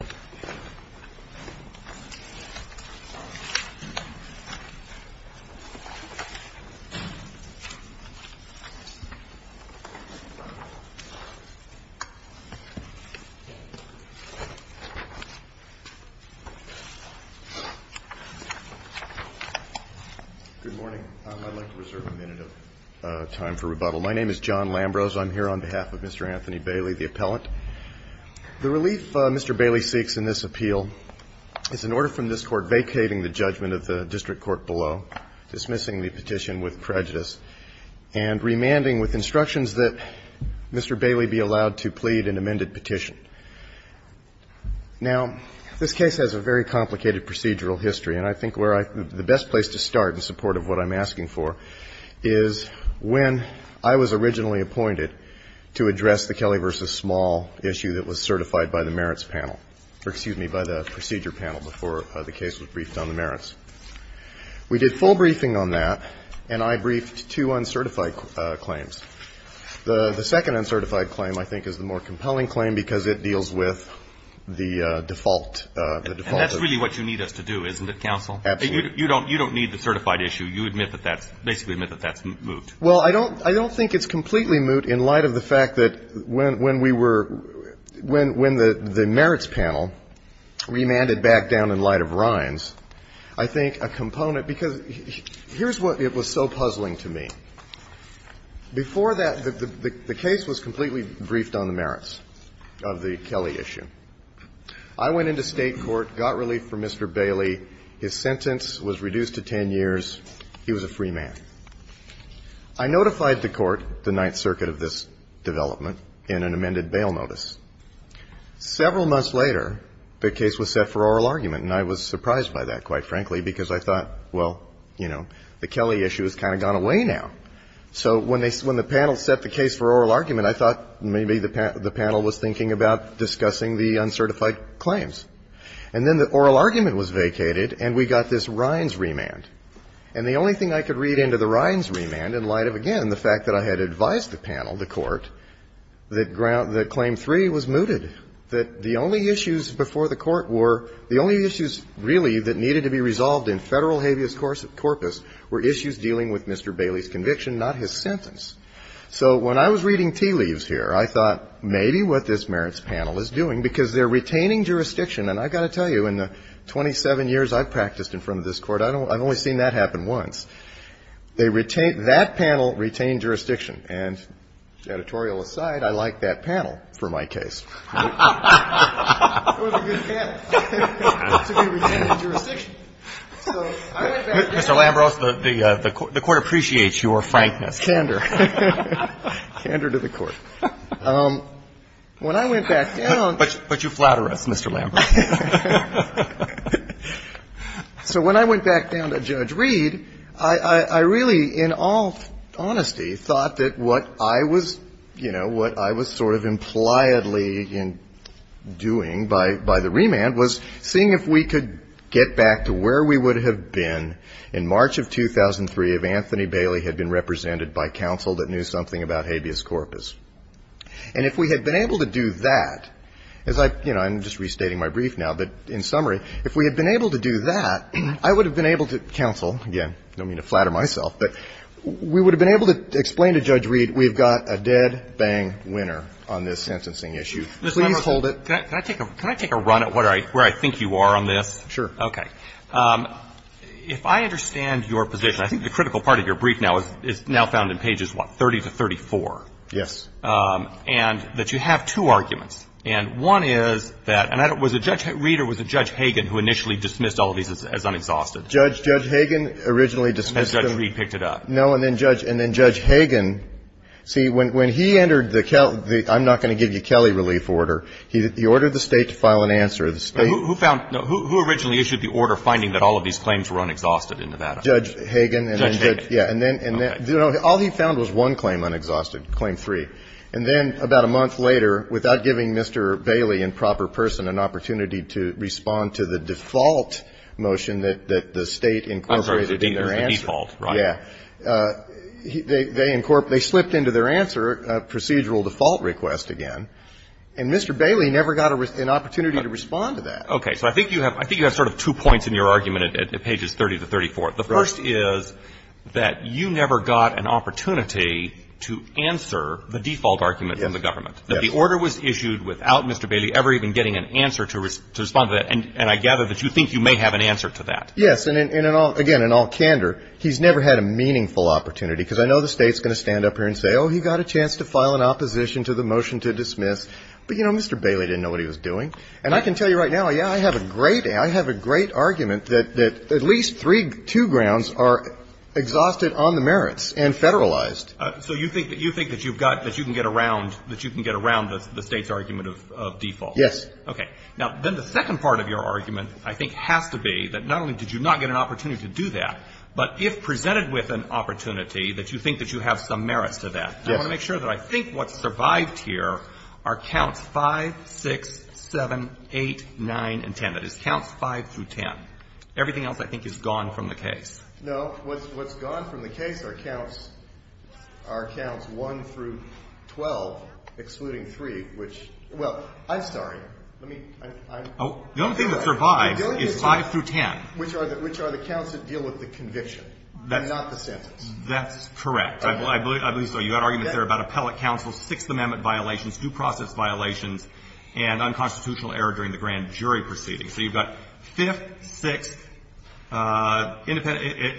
Good morning. I'd like to reserve a minute of time for rebuttal. My name is John Lambrose. I'm here on behalf of Mr. Anthony Bailey, the appellant. The relief Mr. Bailey seeks in this appeal is an order from this Court vacating the judgment of the district court below, dismissing the petition with prejudice, and remanding with instructions that Mr. Bailey be allowed to plead an amended petition. Now, this case has a very complicated procedural history, and I think where I the best place to start in support of what I'm asking for is when I was originally appointed to address the Kelly v. Small issue that was certified by the Merits Panel, or excuse me, by the Procedure Panel before the case was briefed on the merits. We did full briefing on that, and I briefed two uncertified claims. The second uncertified claim, I think, is the more compelling claim because it deals with the default. And that's really what you need us to do, isn't it, counsel? Absolutely. You don't need the certified issue. You admit that that's, basically admit that that's moved. Well, I don't think it's completely moved in light of the fact that when we were – when the Merits Panel remanded back down in light of Rhines, I think a component – because here's what it was so puzzling to me. Before that, the case was completely briefed on the merits of the Kelly issue. I went into State court, got relief from Mr. Bailey. His sentence was reduced to 10 years. He was a free man. I notified the court, the Ninth Circuit of this development, in an amended bail notice. Several months later, the case was set for oral argument, and I was surprised by that, quite frankly, because I thought, well, you know, the Kelly issue has kind of gone away now. So when they – when the panel set the case for oral argument, I thought maybe the panel was thinking about discussing the uncertified claims. And then the oral argument was vacated, and we got this Rhines remand. And the only thing I could read into the Rhines remand, in light of, again, the fact that I had advised the panel, the court, that claim three was mooted, that the only issues before the court were – the only issues, really, that needed to be resolved in federal habeas corpus were issues dealing with Mr. Bailey's conviction, not his sentence. So when I was reading tea leaves here, I thought maybe what this Merits Panel is doing, because they're retaining jurisdiction. And I've got to tell you, in the 27 years I've practiced in front of this Court, I've only seen that happen once. They retain – that panel retained jurisdiction. And editorial aside, I like that panel for my case. It was a good panel to be retained in jurisdiction. So I went back down to the court. Roberts. Mr. Lambros, the Court appreciates your frankness. Lambros. Candor. Candor to the Court. When I went back down to the court, the Court appreciates your frankness. When I went back down to Judge Reed, I really, in all honesty, thought that what I was – you know, what I was sort of impliedly doing by the remand was seeing if we could get back to where we would have been in March of 2003 if Anthony Bailey had been represented by counsel that knew something about habeas corpus. And if we had been able to do that, as I – you know, I'm just restating my brief now, but in summary, if we had been able to do that, I would have been able to counsel – again, I don't mean to flatter myself – but we would have been able to explain to Judge Reed, we've got a dead-bang winner on this sentencing issue. Please hold it. Can I take a run at where I think you are on this? Sure. Okay. If I understand your position, I think the critical part of your brief now is now found in pages, what, 30 to 34. Yes. And that you have two arguments. And one is that – and was it Judge Reed or was it Judge Hagan who initially dismissed all of these as unexhausted? Judge Hagan originally dismissed them. And Judge Reed picked it up. No. And then Judge Hagan – see, when he entered the – I'm not going to give you Kelly relief order. He ordered the State to file an answer. The State – Who found – who originally issued the order finding that all of these claims were unexhausted in Nevada? Judge Hagan. Judge Hagan. Yeah. And then – all he found was one claim, unexhausted, claim three. And then about a month later, without giving Mr. Bailey, in proper person, an opportunity to respond to the default motion that the State incorporated in their answer. I'm sorry. I didn't mean the default, right? Yeah. They slipped into their answer a procedural default request again. And Mr. Bailey never got an opportunity to respond to that. Okay. So I think you have sort of two points in your argument at pages 30 to 34. The first is that you never got an opportunity to answer the default argument from the government. That the order was issued without Mr. Bailey ever even getting an answer to respond to that. And I gather that you think you may have an answer to that. Yes. And in all – again, in all candor, he's never had a meaningful opportunity. Because I know the State's going to stand up here and say, oh, he got a chance to file an opposition to the motion to dismiss. But, you know, Mr. Bailey didn't know what he was doing. And I can tell you right now, yeah, I have a great – I have a great argument that at least three – two grounds are exhausted on the merits and federalized. So you think that you've got – that you can get around – that you can get around the State's argument of default? Yes. Okay. Now, then the second part of your argument, I think, has to be that not only did you not get an opportunity to do that, but if presented with an opportunity that you think that you have some merits to that. Yes. I want to make sure that I think what's survived here are counts 5, 6, 7, 8, 9, and 10. That is, counts 5 through 10. Everything else I think is gone from the case. No. What's gone from the case are counts 1 through 12, excluding 3, which – well, I'm sorry. Let me – I'm sorry. The only thing that survives is 5 through 10. Which are the counts that deal with the conviction and not the sentence. That's correct. I believe so. You've got arguments there about appellate counsel, Sixth Amendment violations, due process violations, and unconstitutional error during the grand jury proceedings. So you've got 5th, 6th,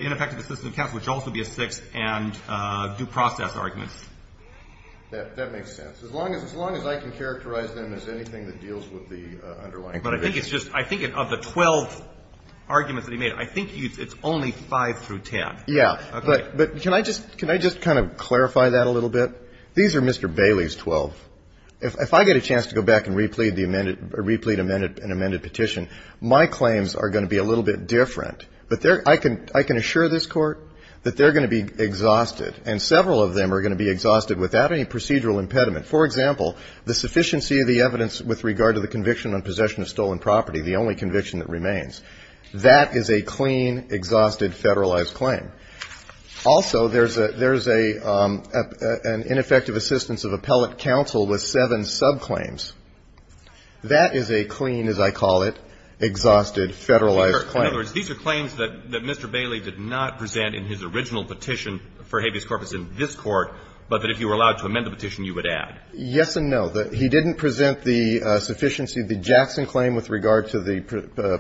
ineffective assistant counsel, which would also be a 6th, and due process arguments. That makes sense. As long as I can characterize them as anything that deals with the underlying conviction. But I think it's just – I think of the 12 arguments that he made, I think it's only 5 through 10. Yeah. But can I just kind of clarify that a little bit? These are Mr. Bailey's 12. If I get a chance to go back and replete the amended – replete an amended petition, my claims are going to be a little bit different. But I can assure this Court that they're going to be exhausted. And several of them are going to be exhausted without any procedural impediment. For example, the sufficiency of the evidence with regard to the conviction on possession of stolen property, the only conviction that remains. That is a clean, exhausted, federalized claim. Also, there's a – there's a – an ineffective assistance of appellate counsel with seven subclaims. That is a clean, as I call it, exhausted, federalized claim. In other words, these are claims that Mr. Bailey did not present in his original petition for habeas corpus in this Court, but that if you were allowed to amend the petition, you would add. Yes and no. He didn't present the sufficiency of the Jackson claim with regard to the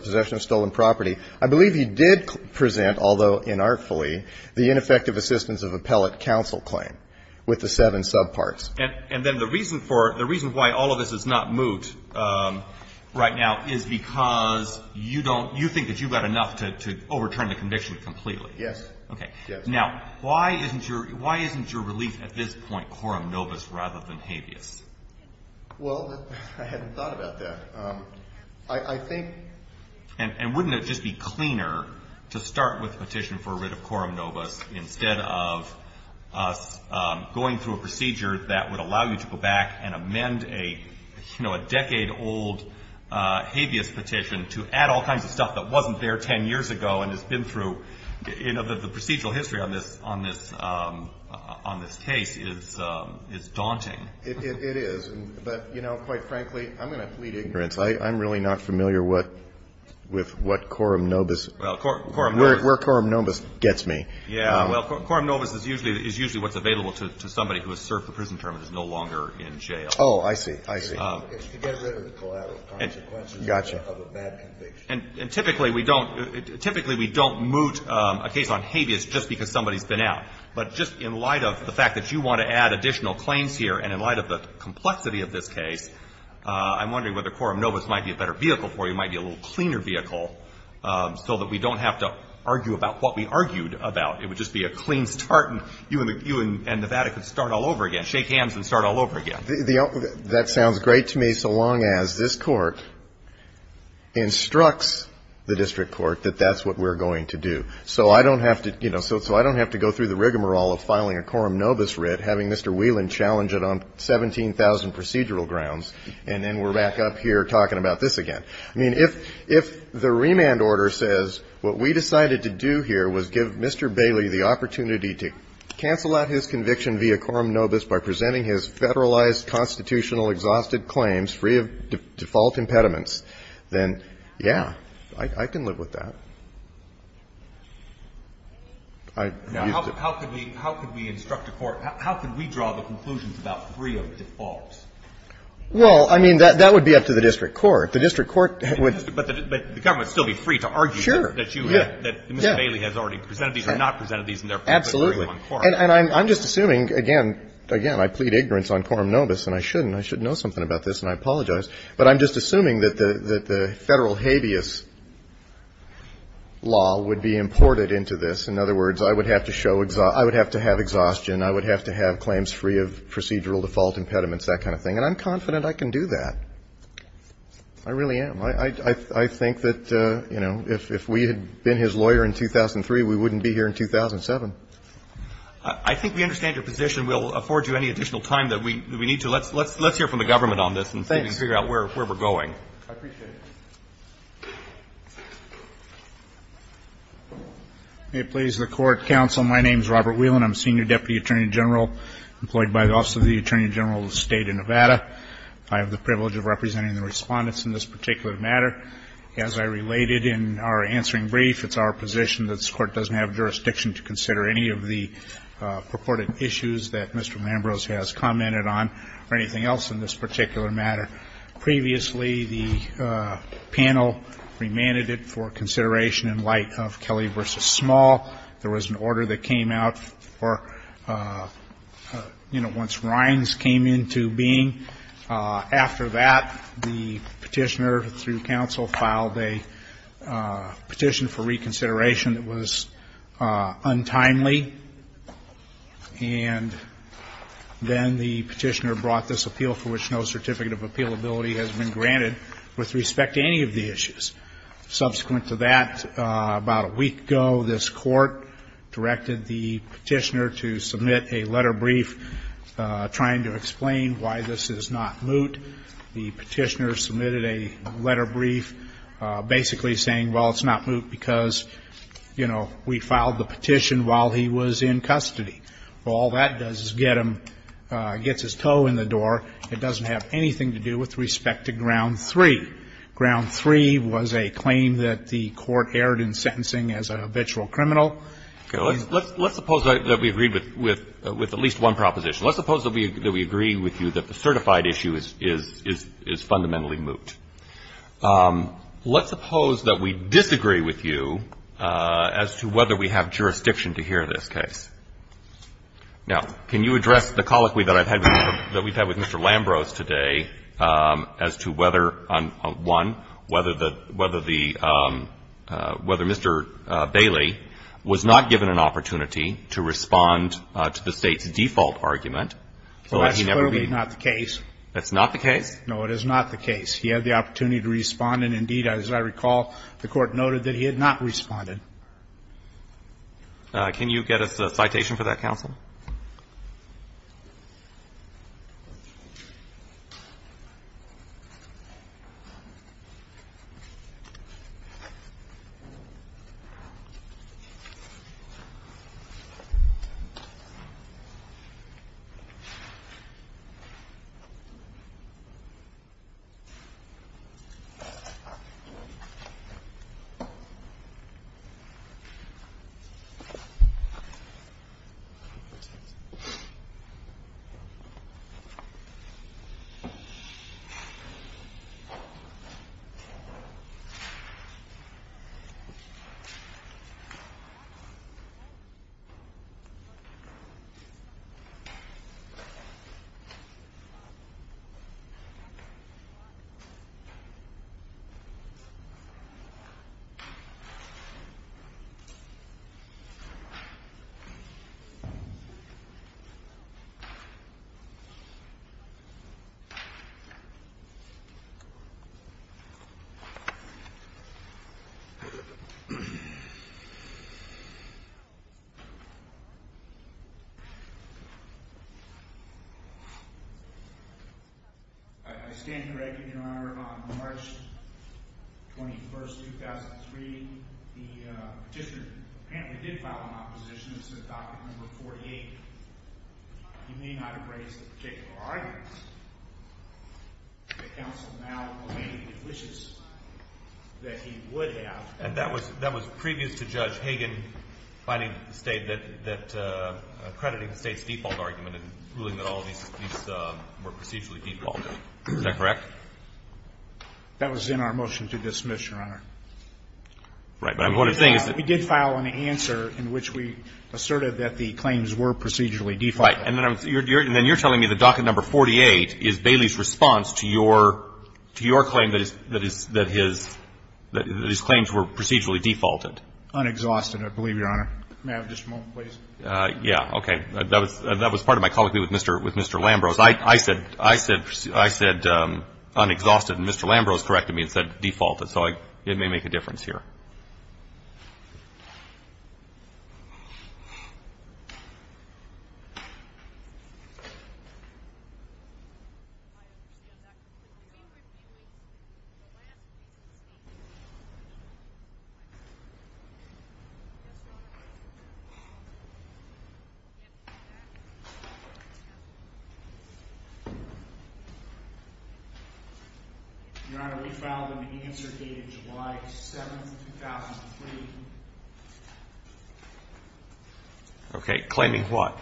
possession of stolen property. I believe he did present, although inartfully, the ineffective assistance of appellate counsel claim with the seven subparts. And then the reason for – the reason why all of this is not moot right now is because you don't – you think that you've got enough to overturn the conviction completely. Yes. Okay. Yes. Now, why isn't your – why isn't your relief at this point quorum nobis rather than habeas? Well, I hadn't thought about that. I think – And wouldn't it just be cleaner to start with a petition for a writ of quorum nobis instead of us going through a procedure that would allow you to go back and amend a, you know, a decade-old habeas petition to add all kinds of stuff that wasn't there 10 years ago and has been through – you know, the procedural history on this – on this case is daunting. It is. But, you know, quite frankly, I'm going to plead ignorance. I'm really not familiar with what quorum nobis – where quorum nobis gets me. Yeah. Well, quorum nobis is usually what's available to somebody who has served the prison term and is no longer in jail. Oh, I see. I see. It's to get rid of the collateral consequences of a bad conviction. And typically we don't – typically we don't moot a case on habeas just because somebody's been out. But just in light of the fact that you want to add additional claims here and in light of the complexity of this case, I'm wondering whether quorum nobis might be a better vehicle for you, might be a little cleaner vehicle, so that we don't have to argue about what we argued about. It would just be a clean start and you and the – you and Nevada could start all over again, shake hands and start all over again. The – that sounds great to me so long as this court instructs the district court that that's what we're going to do. So I don't have to – you know, so I don't have to go through the rigmarole of filing a quorum nobis writ, having Mr. Whelan challenge it on 17,000 procedural grounds, and then we're back up here talking about this again. I mean, if the remand order says what we decided to do here was give Mr. Bailey the opportunity to cancel out his conviction via quorum nobis by presenting his federalized constitutional exhausted claims free of default impediments, then, yeah, I can live with that. I used to – Now, how could we – how could we instruct a court – how could we draw the conclusions about free of defaults? Well, I mean, that would be up to the district court. The district court would – But the government would still be free to argue that you – Sure. Yeah. That Mr. Bailey has already presented these or not presented these, and therefore they're free on quorum nobis. Absolutely. And I'm just assuming – again, I plead ignorance on quorum nobis, and I shouldn't. I should know something about this, and I apologize. But I'm just assuming that the federal habeas law would be imported into this. In other words, I would have to show – I would have to have exhaustion. I would have to have claims free of procedural default impediments, that kind of thing. And I'm confident I can do that. I really am. I think that, you know, if we had been his lawyer in 2003, we wouldn't be here in 2007. I think we understand your position. We'll afford you any additional time that we need to. Let's hear from the government on this and see if we can figure out where we're going. I appreciate it. May it please the Court, counsel, my name is Robert Whelan. I'm senior deputy attorney general employed by the Office of the Attorney General of the State of Nevada. I have the privilege of representing the respondents in this particular matter. As I related in our answering brief, it's our position that this Court doesn't have jurisdiction to consider any of the purported issues that Mr. Lambros has commented on or anything else in this particular matter. Previously, the panel remanded it for consideration in light of Kelly v. Small. There was an order that came out for, you know, once Rhines came into being. After that, the petitioner through counsel filed a petition for reconsideration that was untimely. And then the petitioner brought this appeal for which no certificate of appealability has been granted with respect to any of the issues. Subsequent to that, about a week ago, this Court directed the petitioner to submit a letter brief trying to explain why this is not moot. The petitioner submitted a letter brief basically saying, well, it's not moot because, you know, we filed the petition while he was in custody. Well, all that does is get him, gets his toe in the door. It doesn't have anything to do with respect to ground three. Ground three was a claim that the Court erred in sentencing as a habitual criminal. Okay. Let's suppose that we agreed with at least one proposition. Let's suppose that we agree with you that the certified issue is fundamentally moot. Let's suppose that we disagree with you as to whether we have jurisdiction to hear this case. Now, can you address the colloquy that I've had, that we've had with Mr. Lambrose today as to whether, one, whether the, whether the, whether Mr. Bailey was not given an opportunity to respond to the State's default argument so that he never be. Well, that's clearly not the case. No, it is not the case. He had the opportunity to respond, and indeed, as I recall, the Court noted that he had not responded. Can you get us a citation for that, counsel? Thank you. Thank you. As I remember, on March 21st, 2003, the petitioner apparently did file an opposition that said document number 48. He may not have raised a particular argument. The counsel now lamented the wishes that he would have. And that was, that was previous to Judge Hagan finding the State that, that accrediting the State's default argument and ruling that all of these, these were procedurally defaulted. Is that correct? That was in our motion to dismiss, Your Honor. Right. But what I'm saying is that we did file an answer in which we asserted that the claims were procedurally defaulted. Right. And then I'm, and then you're telling me that docket number 48 is Bailey's response to your, to your claim that his, that his, that his claims were procedurally defaulted. Unexhausted, I believe, Your Honor. May I have just a moment, please? Yeah. Okay. That was, that was part of my colloquy with Mr. Lambrose. I, I said, I said, I said unexhausted and Mr. Lambrose corrected me and said defaulted. So I, it may make a difference here. Your Honor, we filed an answer dated July 7th, 2003. Okay. Claiming what?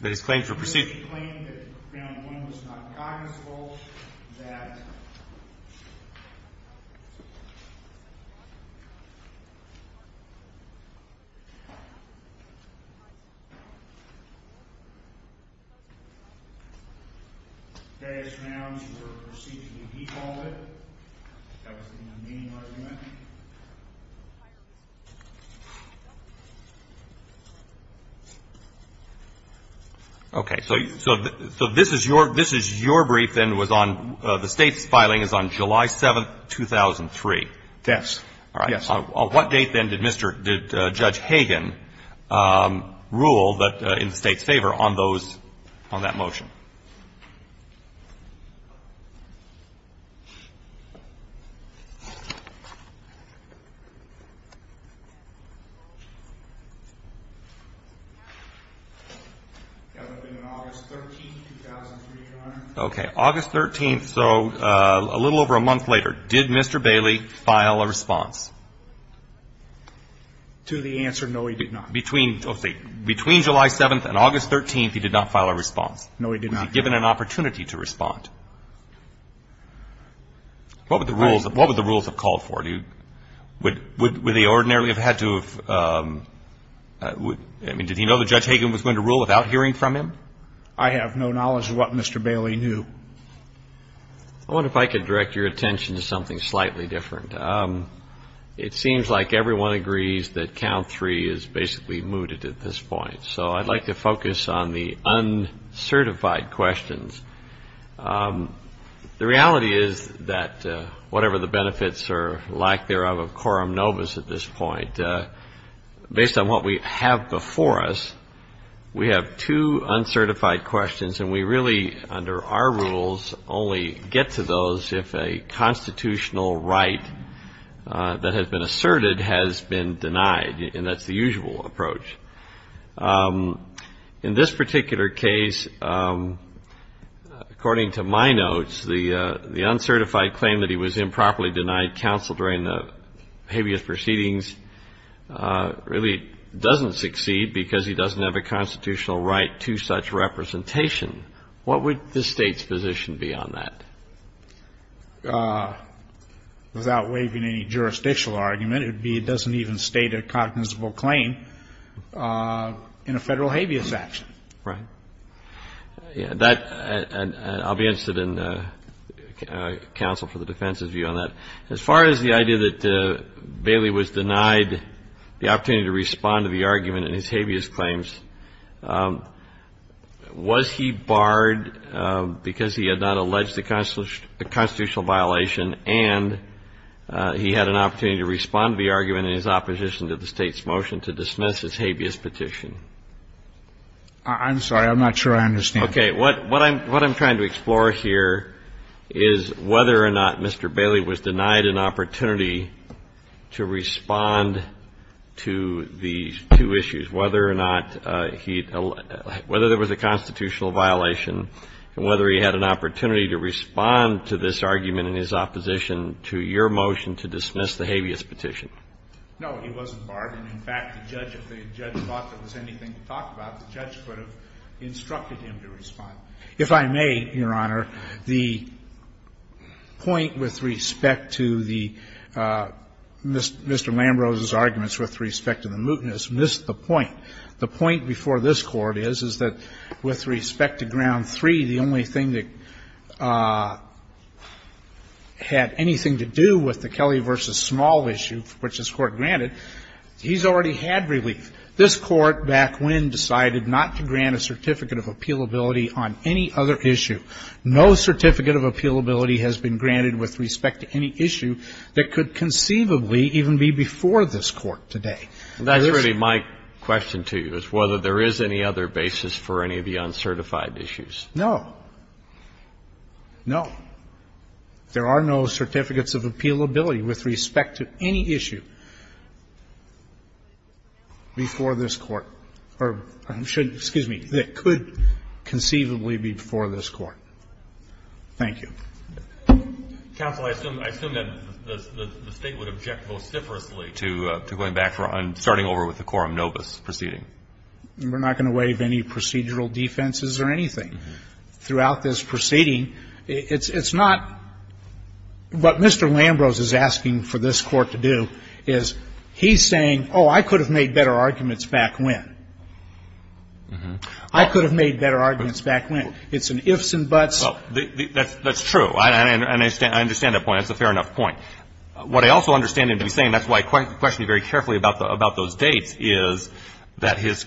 That his claims were procedurally defaulted. Claiming that ground one was not cognizantable, that... Okay. So this is your brief, then, was on the State's filing is on July 7th, 2003. Yes. Yes. On what date, then, did Judge Hagen rule in the State's favor on that motion? That would have been on August 13th, 2003, Your Honor. Okay. August 13th. And so a little over a month later, did Mr. Bailey file a response? To the answer, no, he did not. Between July 7th and August 13th, he did not file a response? No, he did not. Was he given an opportunity to respond? What would the rules have called for? Would they ordinarily have had to have... I mean, did he know that Judge Hagen was going to rule without hearing from him? I have no knowledge of what Mr. Bailey knew. I wonder if I could direct your attention to something slightly different. It seems like everyone agrees that count three is basically mooted at this point. So I'd like to focus on the uncertified questions. The reality is that whatever the benefits or lack thereof of Coram Novus at this point, based on what we have before us, we have two uncertified questions, and we really under our rules only get to those if a constitutional right that has been asserted has been denied, and that's the usual approach. In this particular case, according to my notes, the uncertified claim that he was improperly denied counsel during the habeas proceedings really doesn't succeed because he doesn't have a constitutional right to such representation. What would the State's position be on that? Without waiving any jurisdictional argument, it would be he doesn't even state a cognizable claim in a Federal habeas action. Right. I'll be interested in counsel for the defense's view on that. As far as the idea that Bailey was denied the opportunity to respond to the argument in his habeas claims, was he barred because he had not alleged a constitutional violation and he had an opportunity to respond to the argument in his opposition to the State's motion to dismiss his habeas petition? I'm sorry. I'm not sure I understand. Okay. What I'm trying to explore here is whether or not Mr. Bailey was denied an opportunity to respond to these two issues, whether or not he had alleged or whether there was a constitutional violation and whether he had an opportunity to respond to this argument in his opposition to your motion to dismiss the habeas petition. No, he wasn't barred. In fact, the judge, if the judge thought there was anything to talk about, the judge could have instructed him to respond. If I may, Your Honor, the point with respect to the Mr. Lambrose's arguments with respect to the mootness missed the point. The point before this Court is, is that with respect to Ground 3, the only thing that had anything to do with the Kelly v. Small issue, which this Court granted, he's already had relief. This Court back when decided not to grant a certificate of appealability on any other issue, no certificate of appealability has been granted with respect to any issue that could conceivably even be before this Court today. And that's really my question to you, is whether there is any other basis for any of the uncertified issues. No. No. There are no certificates of appealability with respect to any issue before this Court or should be, excuse me, that could conceivably be before this Court. Thank you. Counsel, I assume that the State would object vociferously to going back and starting over with the quorum nobis proceeding. We're not going to waive any procedural defenses or anything. I understand that. I think that the State is going to voice a different opinion throughout this proceeding. It's not what Mr. Lambros is asking for this Court to do is he's saying oh, I could have made better arguments back when. I could have made better arguments back when. It's an ifs and buts. That's true. And I understand that point. That's a fair enough point. What I also understand him to be saying, that's why I questioned him very carefully about those dates, is that his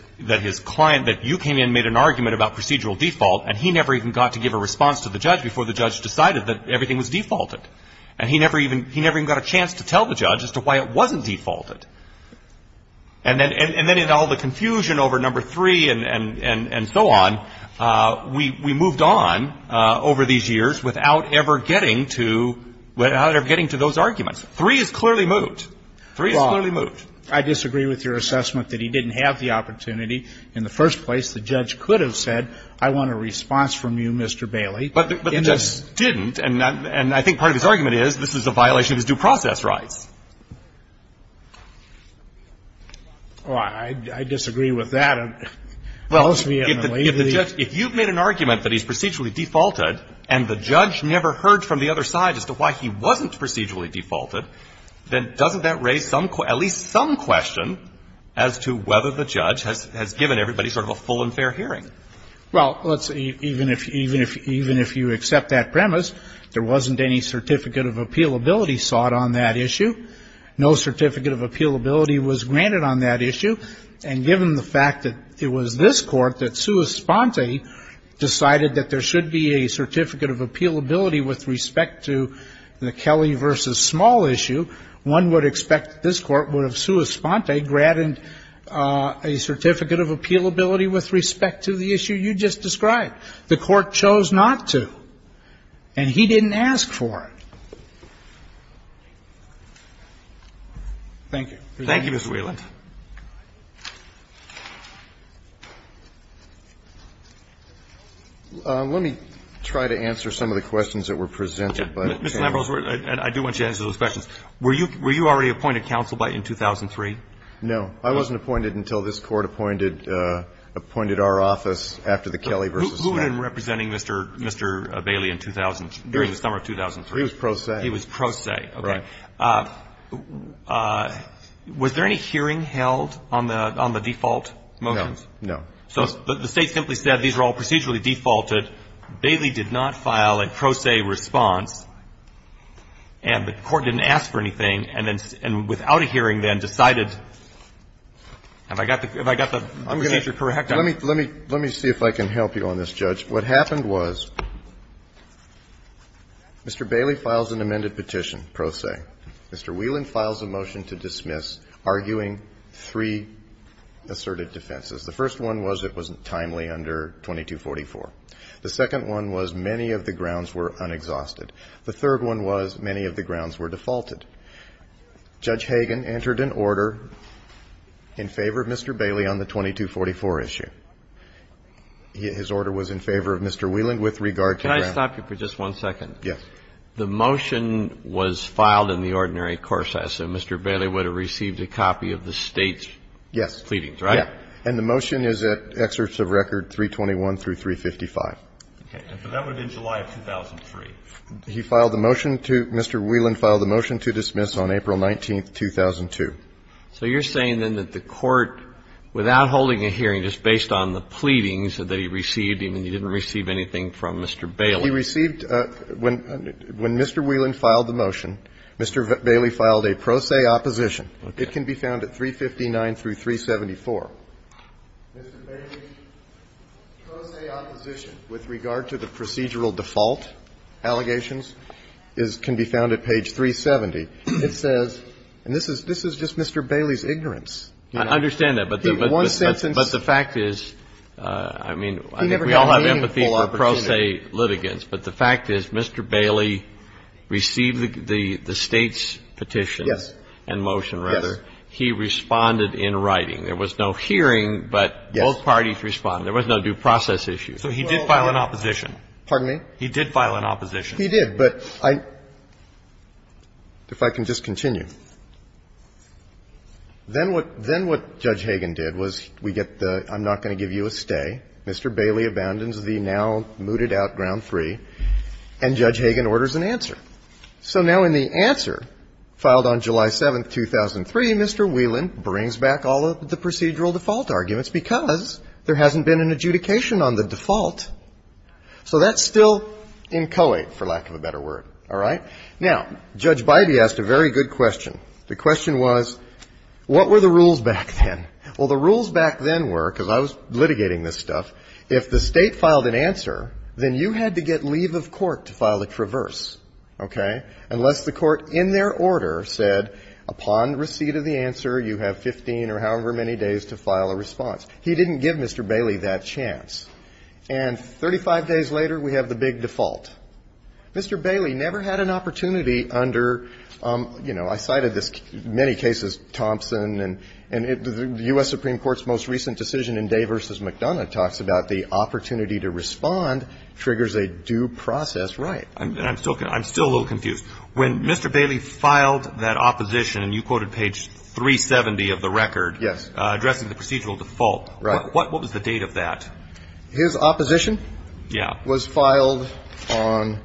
client, that you came in and made an argument about procedural default, and he never even got to give a response to the judge before the judge decided that everything was defaulted. And he never even got a chance to tell the judge as to why it wasn't defaulted. And then in all the confusion over number three and so on, we moved on over these years without ever getting to those arguments. Three is clearly moved. Three is clearly moved. Well, I disagree with your assessment that he didn't have the opportunity. In the first place, the judge could have said I want a response from you, Mr. Bailey. But the judge didn't, and I think part of his argument is this is a violation of his due process rights. Well, I disagree with that. Well, if the judge – if you've made an argument that he's procedurally defaulted and the judge never heard from the other side as to why he wasn't procedurally defaulted, then doesn't that raise at least some question as to whether the judge has given everybody sort of a full and fair hearing? Well, even if you accept that premise, there wasn't any certificate of appealability sought on that issue. No certificate of appealability was granted on that issue. And given the fact that it was this Court that sua sponte decided that there should be a certificate of appealability with respect to the Kelly v. Small issue, one would expect that this Court would have sua sponte granted a certificate of appealability with respect to the issue you just described. The Court chose not to, and he didn't ask for it. Thank you. Thank you, Mr. Whelan. Let me try to answer some of the questions that were presented. Mr. Lambros, I do want you to answer those questions. Were you already appointed counsel in 2003? No. I wasn't appointed until this Court appointed our office after the Kelly v. Small. Who had been representing Mr. Bailey in 2003, during the summer of 2003? He was pro se. He was pro se. Right. Was there any hearing held on the default motions? No. No. So the State simply said these are all procedurally defaulted. Bailey did not file a pro se response, and the Court didn't ask for anything, and then without a hearing then decided, have I got the procedure correct? Let me see if I can help you on this, Judge. What happened was Mr. Bailey files an amended petition pro se. Mr. Whelan files a motion to dismiss, arguing three asserted defenses. The first one was it was timely under 2244. The second one was many of the grounds were unexhausted. The third one was many of the grounds were defaulted. Judge Hagan entered an order in favor of Mr. Bailey on the 2244 issue. His order was in favor of Mr. Whelan with regard to grounds. Can I stop you for just one second? Yes. The motion was filed in the ordinary court session. Mr. Bailey would have received a copy of the State's pleadings, right? Yes. And the motion is at excerpts of record 321 through 355. Okay. So that would have been July of 2003. He filed a motion to Mr. Whelan filed a motion to dismiss on April 19, 2002. So you're saying then that the Court, without holding a hearing, just based on the pleadings, that he received and he didn't receive anything from Mr. Bailey. He received, when Mr. Whelan filed the motion, Mr. Bailey filed a pro se opposition. It can be found at 359 through 374. Mr. Bailey's pro se opposition with regard to the procedural default allegations is can be found at page 370. It says, and this is just Mr. Bailey's ignorance. I understand that, but the fact is, I mean, we all have empathy for pro se litigants, but the fact is Mr. Bailey received the State's petition. Yes. And motion, rather. Yes. He responded in writing. There was no hearing, but both parties responded. There was no due process issue. So he did file an opposition. Pardon me? He did file an opposition. He did. But I, if I can just continue. Then what, then what Judge Hagan did was we get the, I'm not going to give you a stay. Mr. Bailey abandons the now mooted out, ground three. And Judge Hagan orders an answer. So now in the answer filed on July 7th, 2003, Mr. Whelan brings back all of the procedural default arguments because there hasn't been an adjudication on the default. So that's still inchoate, for lack of a better word. All right? Now, Judge Bybee asked a very good question. The question was, what were the rules back then? Well, the rules back then were, because I was litigating this stuff, if the State filed an answer, then you had to get leave of court to file a traverse, okay, unless the court in their order said, upon receipt of the answer, you have 15 or however many days to file a response. He didn't give Mr. Bailey that chance. And 35 days later, we have the big default. Mr. Bailey never had an opportunity under, you know, I cited this in many cases, Thompson, and the U.S. Supreme Court's most recent decision in Day v. McDonough talks about the opportunity to respond triggers a due process right. And I'm still a little confused. When Mr. Bailey filed that opposition, and you quoted page 370 of the record. Yes. Addressing the procedural default. Right. What was the date of that? His opposition. Yeah. Was filed on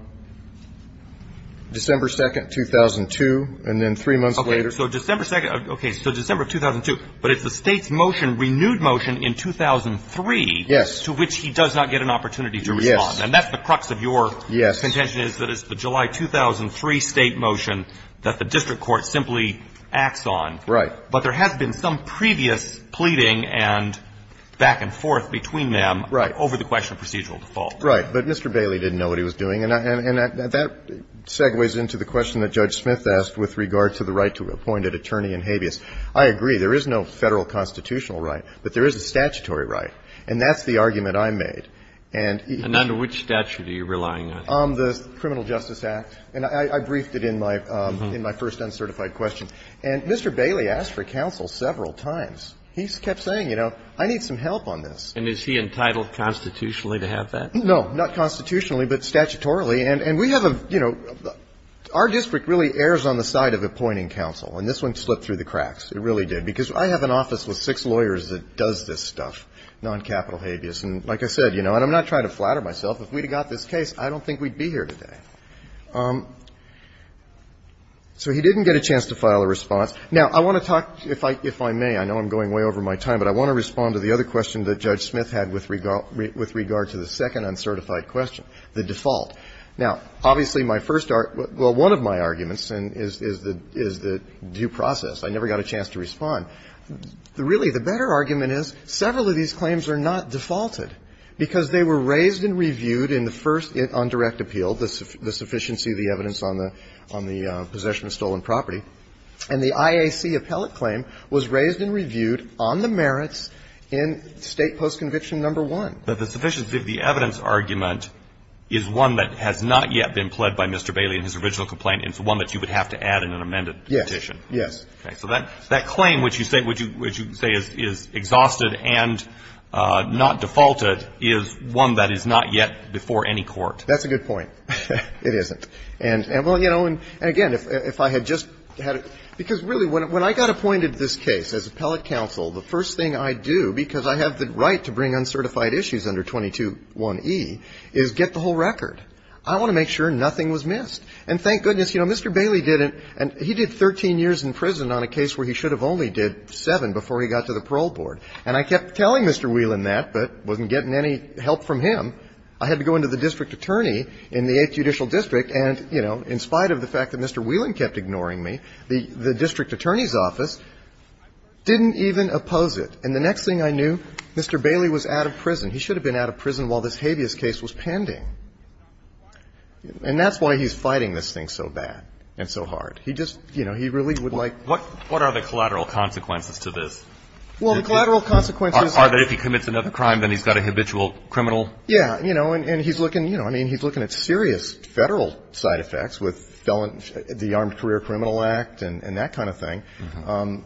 December 2nd, 2002, and then three months later. Okay. So December 2nd. Okay. So December of 2002. But it's the State's motion, renewed motion in 2003. Yes. To which he does not get an opportunity to respond. Yes. And that's the crux of your contention is that it's the July 2003 State motion that the district court simply acts on. Right. But there has been some previous pleading and back and forth between them over the question of procedural default. Right. But Mr. Bailey didn't know what he was doing. And that segues into the question that Judge Smith asked with regard to the right to appoint an attorney in habeas. I agree. There is no Federal constitutional right, but there is a statutory right. And that's the argument I made. And under which statute are you relying on? The Criminal Justice Act. And I briefed it in my first uncertified question. And Mr. Bailey asked for counsel several times. He kept saying, you know, I need some help on this. And is he entitled constitutionally to have that? No. Not constitutionally, but statutorily. And we have a, you know, our district really errs on the side of appointing counsel. And this one slipped through the cracks. It really did. Because I have an office with six lawyers that does this stuff, noncapital habeas. And like I said, you know, and I'm not trying to flatter myself, if we had got this case, I don't think we'd be here today. So he didn't get a chance to file a response. Now, I want to talk, if I may, I know I'm going way over my time, but I want to respond to the other question that Judge Smith had with regard to the second uncertified question, the default. Now, obviously, my first argument, well, one of my arguments is the due process. I never got a chance to respond. Really, the better argument is several of these claims are not defaulted, because they were raised and reviewed in the first on direct appeal, the sufficiency of the evidence on the possession of stolen property. And the IAC appellate claim was raised and reviewed on the merits in State Post-Conviction No. 1. But the sufficiency of the evidence argument is one that has not yet been pled by Mr. Bailey in his original complaint. It's one that you would have to add in an amended petition. Yes. Yes. Okay. So that claim which you say is exhausted and not defaulted is one that is not yet before any court. That's a good point. It isn't. And, well, you know, and again, if I had just had to, because really when I got appointed this case as appellate counsel, the first thing I do, because I have the right to bring uncertified issues under 221E, is get the whole record. I want to make sure nothing was missed. And thank goodness, you know, Mr. Bailey did it, and he did 13 years in prison on a case where he should have only did seven before he got to the parole board. And I kept telling Mr. Whelan that, but wasn't getting any help from him. I had to go into the district attorney in the 8th Judicial District, and, you know, in spite of the fact that Mr. Whelan kept ignoring me, the district attorney's office didn't even oppose it. And the next thing I knew, Mr. Bailey was out of prison. He should have been out of prison while this habeas case was pending. And that's why he's fighting this thing so bad and so hard. He just, you know, he really would like. What are the collateral consequences to this? Well, the collateral consequences. Are they if he commits another crime, then he's got a habitual criminal. Yeah, you know, and he's looking, you know, I mean, he's looking at serious federal side effects with the Armed Career Criminal Act and that kind of thing.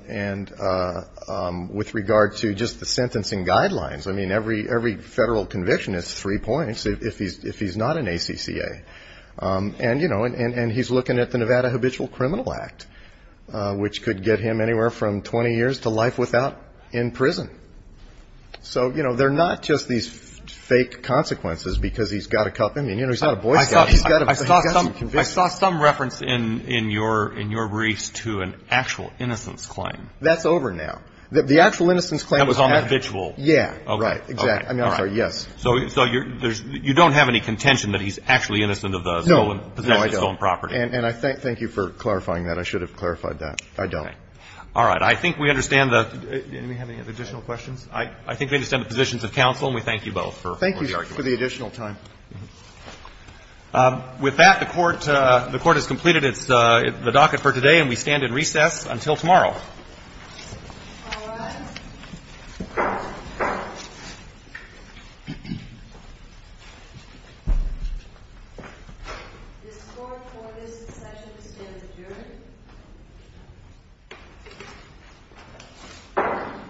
And with regard to just the sentencing guidelines, I mean, every federal conviction is three points. If he's not an ACCA. And, you know, and he's looking at the Nevada Habitual Criminal Act, which could get him anywhere from 20 years to life without in prison. So, you know, they're not just these fake consequences because he's got a cup. I mean, you know, he's not a boy scout. He's got a conviction. I saw some reference in your briefs to an actual innocence claim. That's over now. The actual innocence claim was on habitual. Yeah. Right. Exactly. All right. So you don't have any contention that he's actually innocent of the stolen property. No, I don't. And I thank you for clarifying that. I should have clarified that. I don't. All right. I think we understand the. Do we have any additional questions? I think we understand the positions of counsel, and we thank you both for the argument. Thank you for the additional time. With that, the Court has completed the docket for today, and we stand in recess until tomorrow. All right. The score for this session stands adjourned.